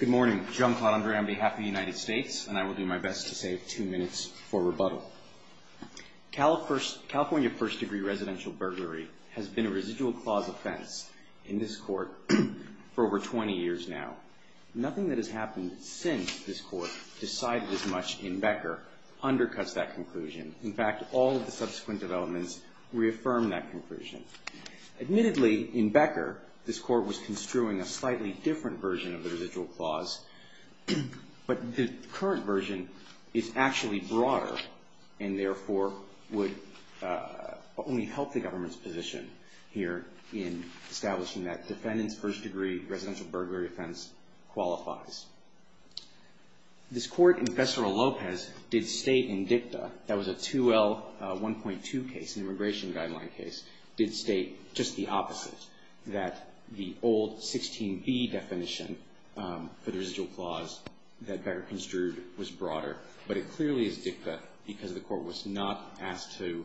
Good morning, John Claude Andre on behalf of the United States, and I will do my best to save two minutes for rebuttal. California first-degree residential burglary has been a residual clause offense in this court for over 20 years now. Nothing that has happened since this court decided as much in Becker undercuts that conclusion. In fact, all of the subsequent developments reaffirm that conclusion. Admittedly, in Becker, this court was construing a slightly different version of the residual clause, but the current version is actually broader and therefore would only help the government's position here in establishing that defendant's first-degree residential burglary offense qualifies. This court, in Fesero Lopez, did state in DICTA, that was a 2L1.2 case, an immigration guideline case, did state just the opposite, that the old 16B definition for the residual clause that Becker construed was broader, but it clearly is DICTA because the court was not asked to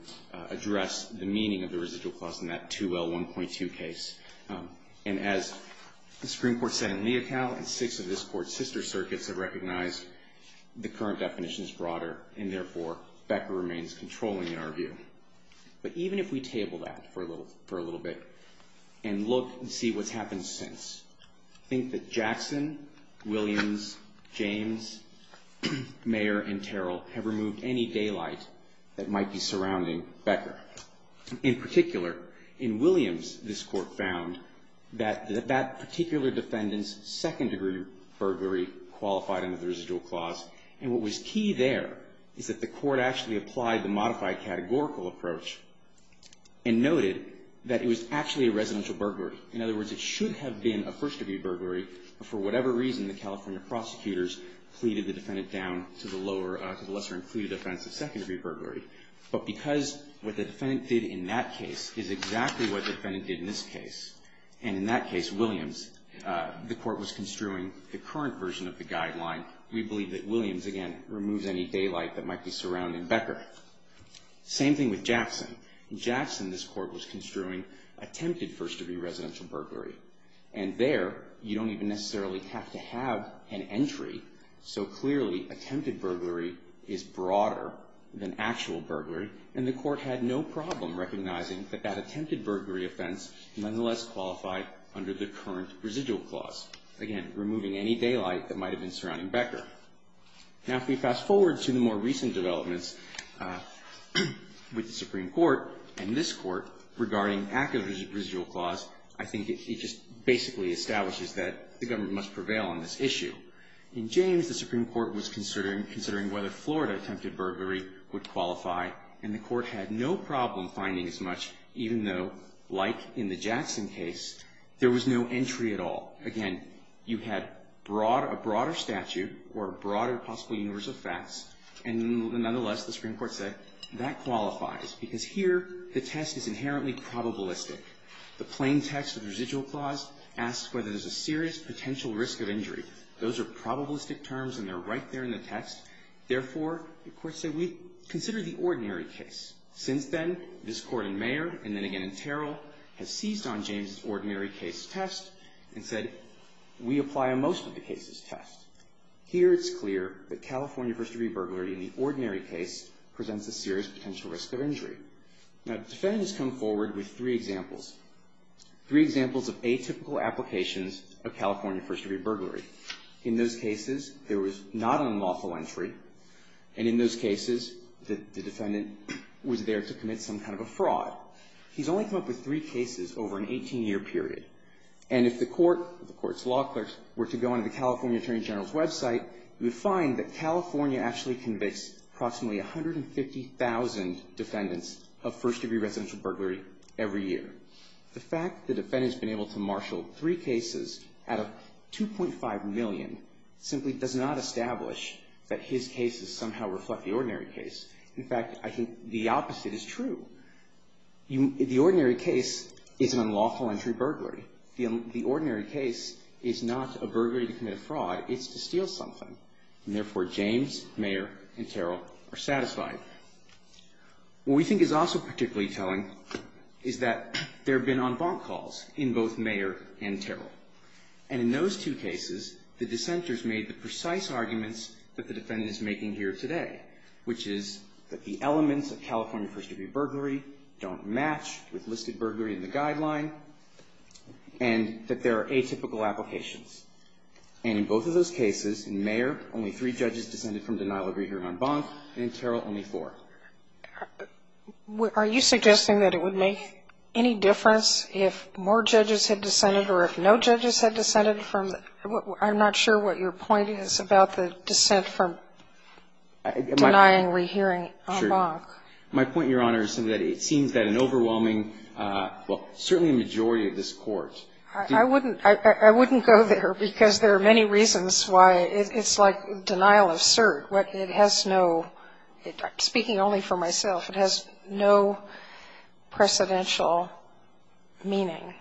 address the meaning of the residual clause in that 2L1.2 case. And as the Supreme Court said in Leocal and six of this court's sister circuits have recognized the current definition is broader and therefore Becker remains controlling in our view. But even if we table that for a little bit and look and see what's happened since, I think that Jackson, Williams, James, Mayer, and Terrell have removed any daylight that might be surrounding Becker. In particular, in Williams, this court found that that particular defendant's second-degree burglary qualified under the residual clause and what was key there is that the court actually applied the modified categorical approach and noted that it was actually a residential burglary. In other words, it should have been a first-degree burglary for whatever reason the California prosecutors pleaded the defendant down to the lesser and clearer defense of second-degree burglary. But because what the defendant did in that case is exactly what the defendant did in this case, and in that case, Williams, the court was construing the current version of the guideline, we believe that Williams, again, removes any daylight that might be surrounding Becker. Same thing with Jackson. In Jackson, this court was construing attempted first-degree residential burglary. And there, you don't even necessarily have to have an entry. So clearly, attempted burglary is broader than actual burglary, and the court had no problem recognizing that that attempted burglary offense nonetheless qualified under the current residual clause. Again, removing any daylight that might have been surrounding Becker. Now, if we fast forward to the more recent developments with the Supreme Court and this court regarding active residual clause, I think it just basically establishes that the government must prevail on this issue. In James, the Supreme Court was considering whether Florida attempted burglary would qualify, and the court had no problem finding as much, even though, like in the Jackson case, there was no entry at all. Again, you had a broader statute or a broader possible universe of facts, and nonetheless, the Supreme Court said, that qualifies, because here, the test is inherently probabilistic. The plain text of the residual clause asks whether there's a serious potential risk of injury. Those are probabilistic terms, and they're right there in the text. Therefore, the court said, we consider the ordinary case. Since then, this court in Mayer, and then again in Terrell, has seized on James's ordinary case test and said, we apply a most of the cases test. Here, it's clear that California first-degree burglary in the ordinary case presents a serious potential risk of injury. Now, the defendant has come forward with three examples. Three examples of atypical applications of California first-degree burglary. In those cases, there was not an unlawful entry, and in those cases, the defendant was there to commit some kind of a fraud. He's only come up with three cases over an 18-year period. And if the court, the court's law clerks, were to go onto the California Attorney General's website, you would find that California actually convicts approximately 150,000 defendants of first-degree residential burglary every year. The fact the defendant's been able to marshal three cases out of 2.5 million simply does not establish that his cases somehow reflect the ordinary case. In fact, I think the opposite is true. The ordinary case is an unlawful entry burglary. The ordinary case is not a burglary to commit a fraud. It's to steal something. And therefore, James, Mayer, and Terrell are satisfied. What we think is also particularly telling is that there have been en banc calls in both Mayer and Terrell. And in those two cases, the dissenters made the precise arguments that the defendant is making here today, which is that the elements of California first-degree burglary don't match with listed burglary in the guideline. And that there are atypical applications. And in both of those cases, in Mayer, only three judges dissented from denial of rehearing en banc, and in Terrell, only four. Are you suggesting that it would make any difference if more judges had dissented or if no judges had dissented from the – I'm not sure what your point is about the dissent from denying rehearing en banc. My point, Your Honor, is that it seems that an overwhelming – well, certainly a majority of this Court. I wouldn't – I wouldn't go there, because there are many reasons why. It's like denial of cert. It has no – speaking only for myself, it has no precedential meaning.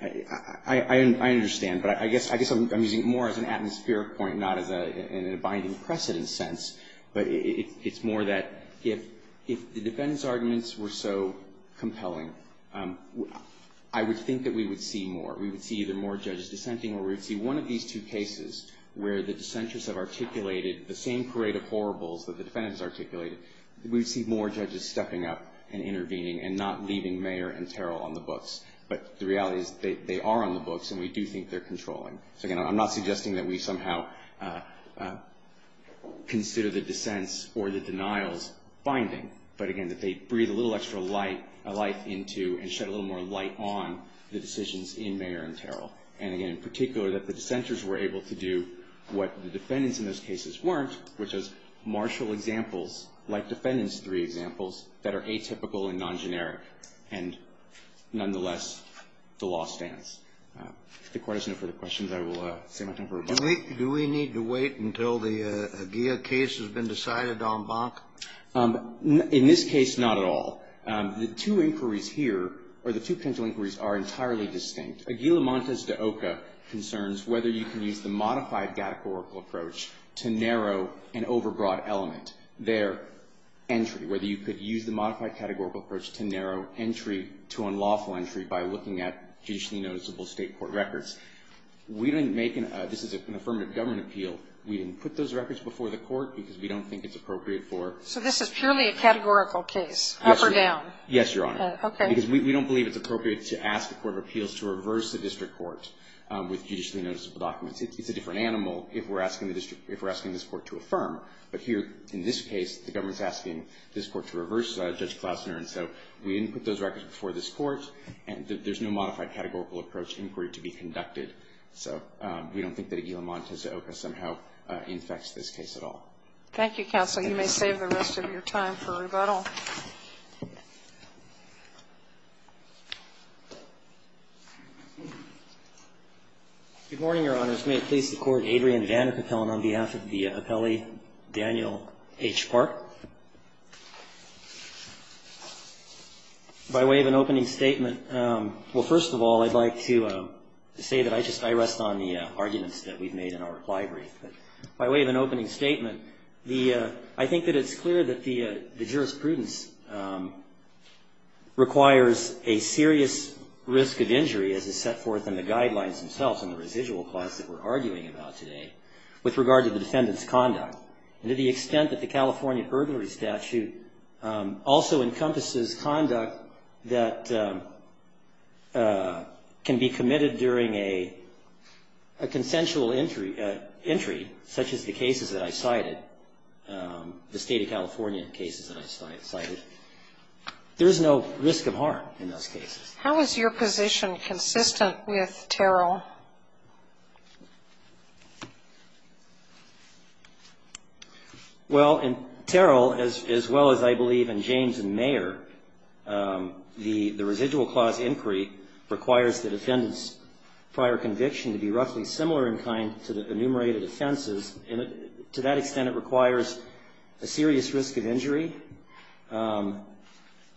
I understand. But I guess I'm using it more as an atmospheric point, not as a binding precedent in a sense, but it's more that if the defendants' arguments were so compelling, I would think that we would see more. We would see either more judges dissenting or we would see one of these two cases where the dissenters have articulated the same parade of horribles that the defendants articulated. We would see more judges stepping up and intervening and not leaving Mayer and Terrell on the books. But the reality is they are on the books, and we do think they're controlling. So, again, I'm not suggesting that we somehow consider the dissents or the denials binding, but, again, that they breathe a little extra light into and shed a little more light on the decisions in Mayer and Terrell. And, again, in particular, that the dissenters were able to do what the defendants in those cases weren't, which was marshal examples like defendant's three examples that are atypical and non-generic. And, nonetheless, the law stands. If the Court has no further questions, I will save my time for rebuttal. Do we need to wait until the Aguila case has been decided en banc? In this case, not at all. The two inquiries here, or the two potential inquiries, are entirely distinct. Aguila Montes de Oca concerns whether you can use the modified categorical approach to narrow an overbroad element. Their entry, whether you could use the modified categorical approach to narrow entry to unlawful entry by looking at judicially noticeable State court records. We didn't make an – this is an affirmative government appeal. We didn't put those records before the Court because we don't think it's appropriate for – So this is purely a categorical case, up or down? Yes, Your Honor. Okay. Because we don't believe it's appropriate to ask the Court of Appeals to reverse the district court with judicially noticeable documents. It's a different animal if we're asking the district – if we're asking this Court to affirm. But here, in this case, the government is asking this Court to reverse Judge Klausner, and so we didn't put those records before this Court, and there's no modified categorical approach inquiry to be conducted. So we don't think that Aguila Montes de Oca somehow infects this case at all. Thank you, counsel. You may save the rest of your time for rebuttal. Good morning, Your Honors. May it please the Court, Adrian Vandercapel and on behalf of the appellee, Daniel H. Park. By way of an opening statement, well, first of all, I'd like to say that I just – I rest on the arguments that we've made in our reply brief. But by way of an opening statement, I think that it's clear that the jurisprudence requires a serious risk of injury as is set forth in the guidelines themselves in the residual clause that we're arguing about today with regard to the defendant's conduct. And to the extent that the California Urgulary Statute also encompasses conduct that can be committed during a consensual entry, such as the cases that I cited, the State of California cases that I cited, there is no risk of harm in those cases. How is your position consistent with Terrell? Well, in Terrell, as well as I believe in James and Mayer, the residual clause inquiry requires the defendant's prior conviction to be roughly similar in kind to the enumerated offenses. And to that extent, it requires a serious risk of injury.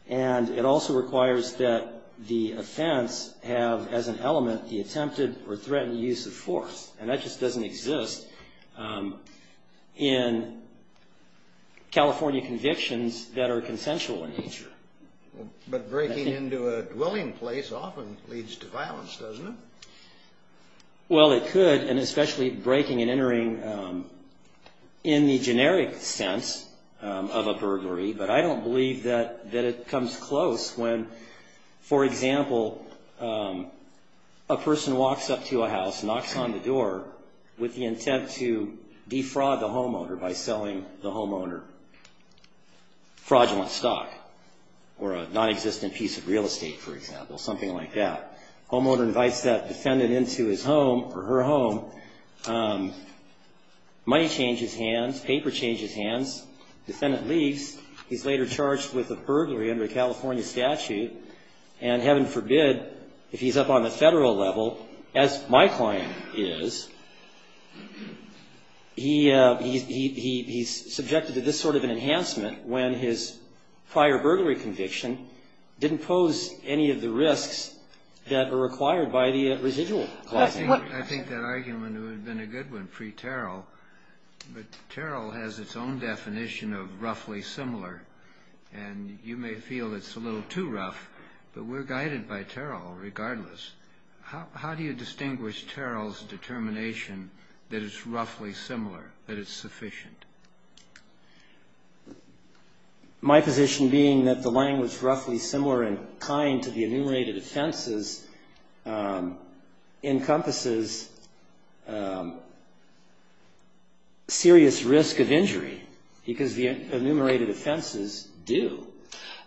And it also requires that the offense have as an element the attempted or threatened use of force. And that just doesn't exist in California convictions that are consensual in nature. But breaking into a dwelling place often leads to violence, doesn't it? Well, it could, and especially breaking and entering in the generic sense of a burglary, but I don't believe that it comes close when, for example, a person walks up to a house, knocks on the door with the intent to defraud the homeowner by selling the homeowner fraudulent stock or a nonexistent piece of real estate, for example, something like that. Homeowner invites that defendant into his home or her home. Money changes hands. Paper changes hands. Defendant leaves. He's later charged with a burglary under a California statute. And heaven forbid, if he's up on the federal level, as my client is, he's subjected to this sort of an enhancement when his prior burglary conviction didn't pose any of the risks that are required by the residual clauses. I think that argument would have been a good one, free Terrell. But Terrell has its own definition of roughly similar, and you may feel it's a little too rough, but we're guided by Terrell regardless. How do you distinguish Terrell's determination that it's roughly similar, that it's sufficient? My position being that the language roughly similar in kind to the enumerated offenses encompasses serious risk of injury, because the enumerated offenses do.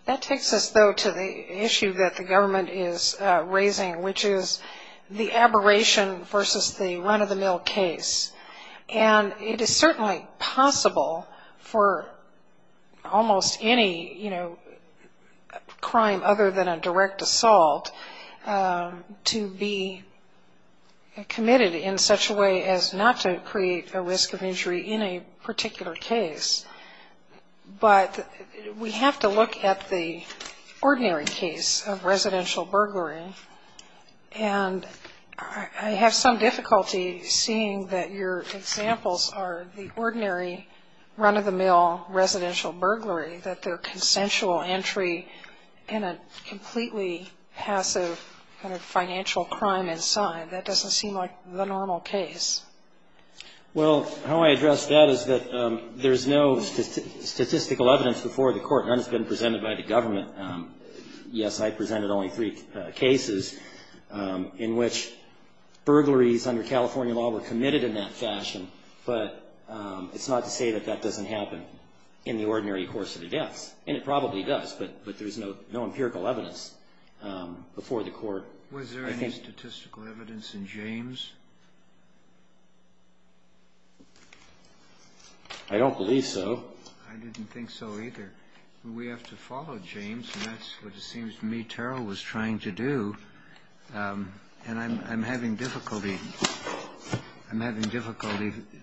That takes us, though, to the issue that the government is raising, which is the aberration versus the run-of-the-mill case. And it is certainly possible for almost any, you know, crime other than a direct assault to be committed in such a way as not to create a risk of injury in a particular case. But we have to look at the ordinary case of residential burglary, and I have some difficulty seeing that your examples are the ordinary run-of-the-mill residential burglary, that they're consensual entry in a completely passive kind of financial crime inside. That doesn't seem like the normal case. Well, how I address that is that there's no statistical evidence before the court. None has been presented by the government. Yes, I presented only three cases in which burglaries under California law were committed in that fashion, but it's not to say that that doesn't happen in the ordinary course of events. And it probably does, but there's no empirical evidence before the court. Was there any statistical evidence in James? I don't believe so. I didn't think so either. We have to follow James, and that's what it seems to me Terrell was trying to do, and I'm having difficulty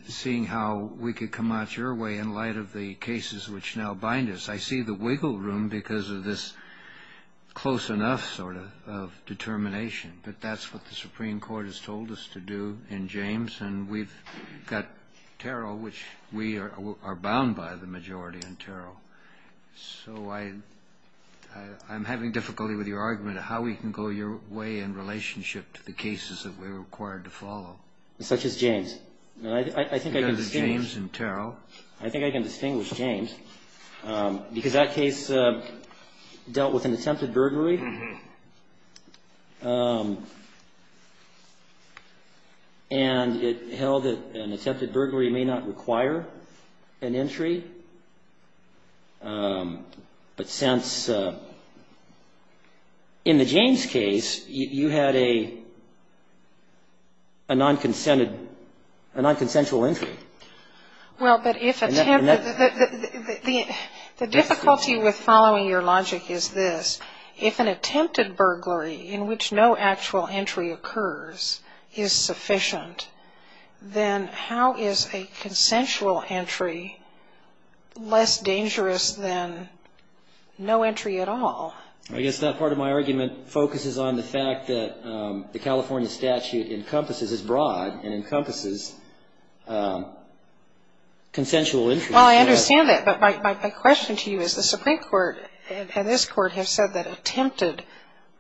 seeing how we could come out your way in light of the cases which now bind us. I see the wiggle room because of this close enough sort of determination, but that's what the Supreme Court has told us to do in James, and we've got Terrell, which we are bound by the majority in Terrell. So I'm having difficulty with your argument of how we can go your way in relationship to the cases that we're required to follow. Such as James. Because of James and Terrell. I think I can distinguish James because that case dealt with an attempted burglary. And it held that an attempted burglary may not require an entry, but since in the James case, you had a non-consensual entry. Well, but if attempted the difficulty with following your logic is this. If an attempted burglary in which no actual entry occurs is sufficient, then how is a consensual entry less dangerous than no entry at all? I guess that part of my argument focuses on the fact that the California statute encompasses, is broad and encompasses consensual entry. Well, I understand that. But my question to you is the Supreme Court and this Court have said that attempted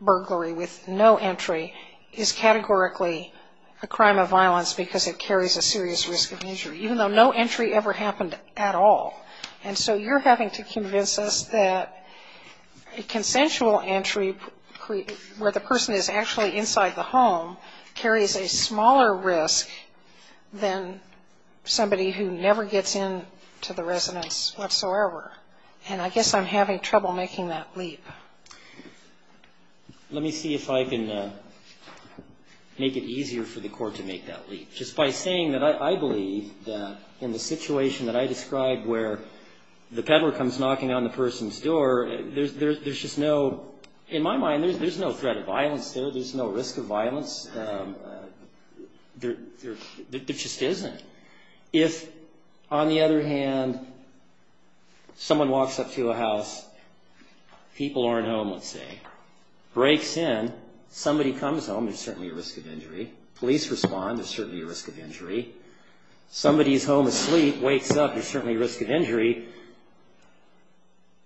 burglary with no entry is categorically a crime of violence because it carries a serious risk of injury, even though no entry ever happened at all. And so you're having to convince us that a consensual entry where the person is actually inside the home carries a smaller risk than somebody who never gets into the residence whatsoever. And I guess I'm having trouble making that leap. Let me see if I can make it easier for the Court to make that leap. Just by saying that I believe that in the situation that I described where the peddler comes knocking on the person's door, there's just no, in my mind, there's no threat of violence there. There's no risk of violence. There just isn't. If, on the other hand, someone walks up to a house, people aren't home, let's say, breaks in, somebody comes home, there's certainly a risk of injury. Police respond, there's certainly a risk of injury. Somebody's home asleep, wakes up, there's certainly a risk of injury.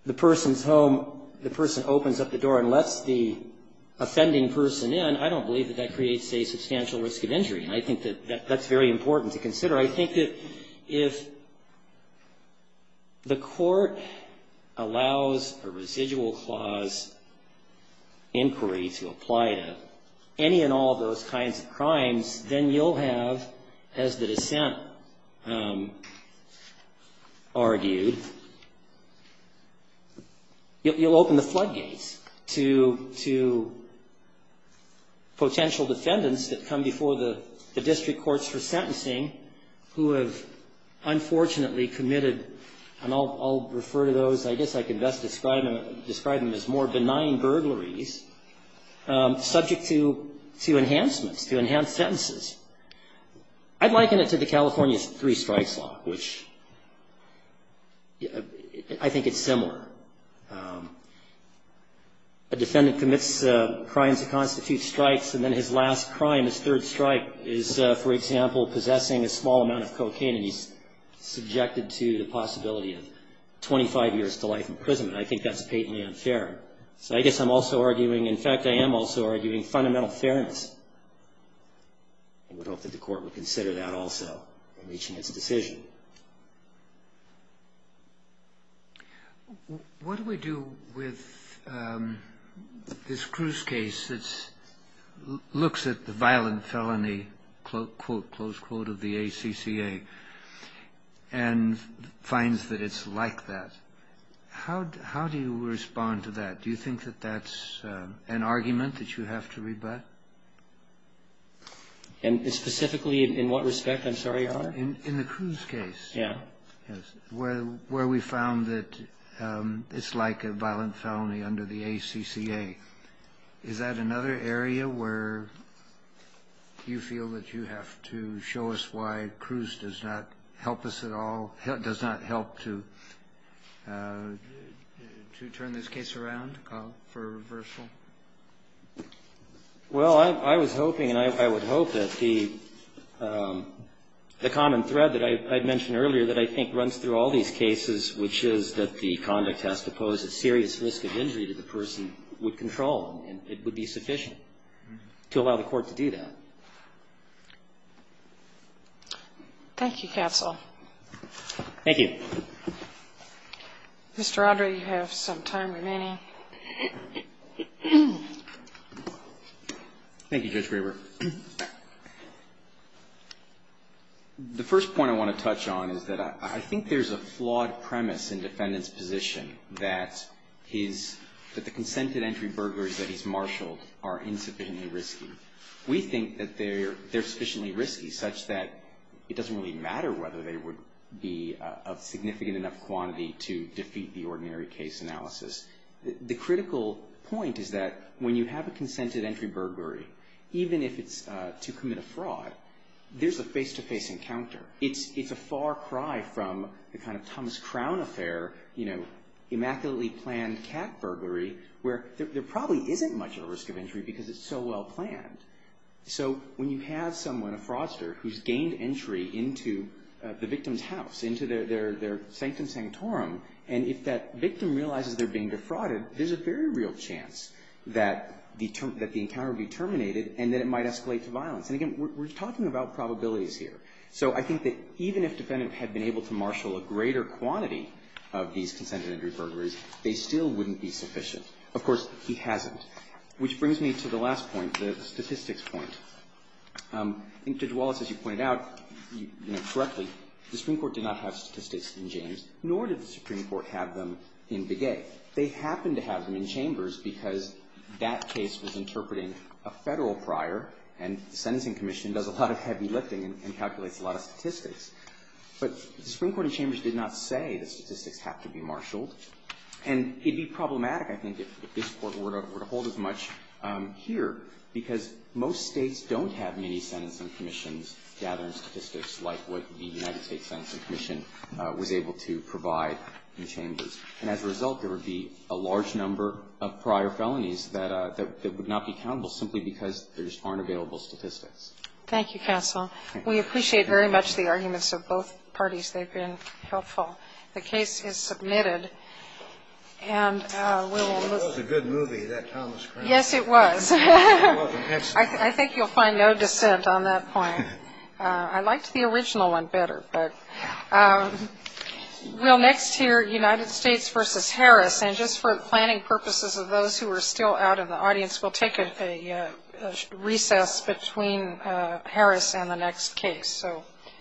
The person's home, the person opens up the door and lets the offending person in, I don't believe that that creates a substantial risk of injury. And I think that that's very important to consider. I think that if the Court allows a residual clause inquiry to apply to any and all of those kinds of crimes, then you'll have, as the dissent argued, you'll open the floodgates to potential defendants that come before the district courts for sentencing who have unfortunately committed, and I'll refer to those, I guess I could best describe them as more benign burglaries, subject to enhancements, to enhanced sentences. I'd liken it to the California Three Strikes Law, which I think it's similar. A defendant commits crimes that constitute strikes, and then his last crime, his third strike, is, for example, possessing a small amount of cocaine, and he's subjected to the possibility of 25 years to life imprisonment. I think that's patently unfair. So I guess I'm also arguing, in fact, I am also arguing fundamental fairness. I would hope that the Court would consider that also in reaching its decision. What do we do with this Cruz case that looks at the violent felony, close quote of the ACCA, and finds that it's like that? How do you respond to that? Do you think that that's an argument that you have to rebut? And specifically in what respect? I'm sorry, Your Honor. In the Cruz case. Yes. Where we found that it's like a violent felony under the ACCA. Is that another area where you feel that you have to show us why Cruz does not help us at all, does not help to turn this case around for reversal? Well, I was hoping and I would hope that the common thread that I had mentioned earlier that I think runs through all these cases, which is that the conduct has to pose a serious risk of injury to the person with control, and it would be sufficient to allow the Court to do that. Thank you, Counsel. Thank you. Mr. Rodra, you have some time remaining. Thank you, Judge Graber. The first point I want to touch on is that I think there's a flawed premise in the defendant's position that the consented entry burglaries that he's marshaled are insufficiently risky. We think that they're sufficiently risky such that it doesn't really matter whether they would be of significant enough quantity to defeat the ordinary case analysis. The critical point is that when you have a consented entry burglary, even if it's to commit a fraud, there's a face-to-face encounter. It's a far cry from the kind of Thomas Crown Affair, you know, immaculately planned cat well planned. So when you have someone, a fraudster, who's gained entry into the victim's house, into their sanctum sanctorum, and if that victim realizes they're being defrauded, there's a very real chance that the encounter would be terminated and that it might escalate to violence. And again, we're talking about probabilities here. So I think that even if the defendant had been able to marshal a greater quantity of these consented entry burglaries, they still wouldn't be sufficient. Of course, he hasn't. Which brings me to the last point, the statistics point. I think Judge Wallace, as you pointed out correctly, the Supreme Court did not have statistics in James, nor did the Supreme Court have them in Begay. They happened to have them in Chambers because that case was interpreting a Federal prior and the Sentencing Commission does a lot of heavy lifting and calculates a lot of statistics. But the Supreme Court in Chambers did not say the statistics have to be marshaled. And it would be problematic, I think, if this Court were to hold as much here, because most States don't have many Sentencing Commissions gathering statistics like what the United States Sentencing Commission was able to provide in Chambers. And as a result, there would be a large number of prior felonies that would not be accountable simply because there just aren't available statistics. Thank you, counsel. We appreciate very much the arguments of both parties. They've been helpful. The case is submitted. That was a good movie, that Thomas Cranmer. Yes, it was. I think you'll find no dissent on that point. I liked the original one better. We'll next hear United States v. Harris. And just for planning purposes of those who are still out in the audience, we'll take a recess between Harris and the next case. Thank you.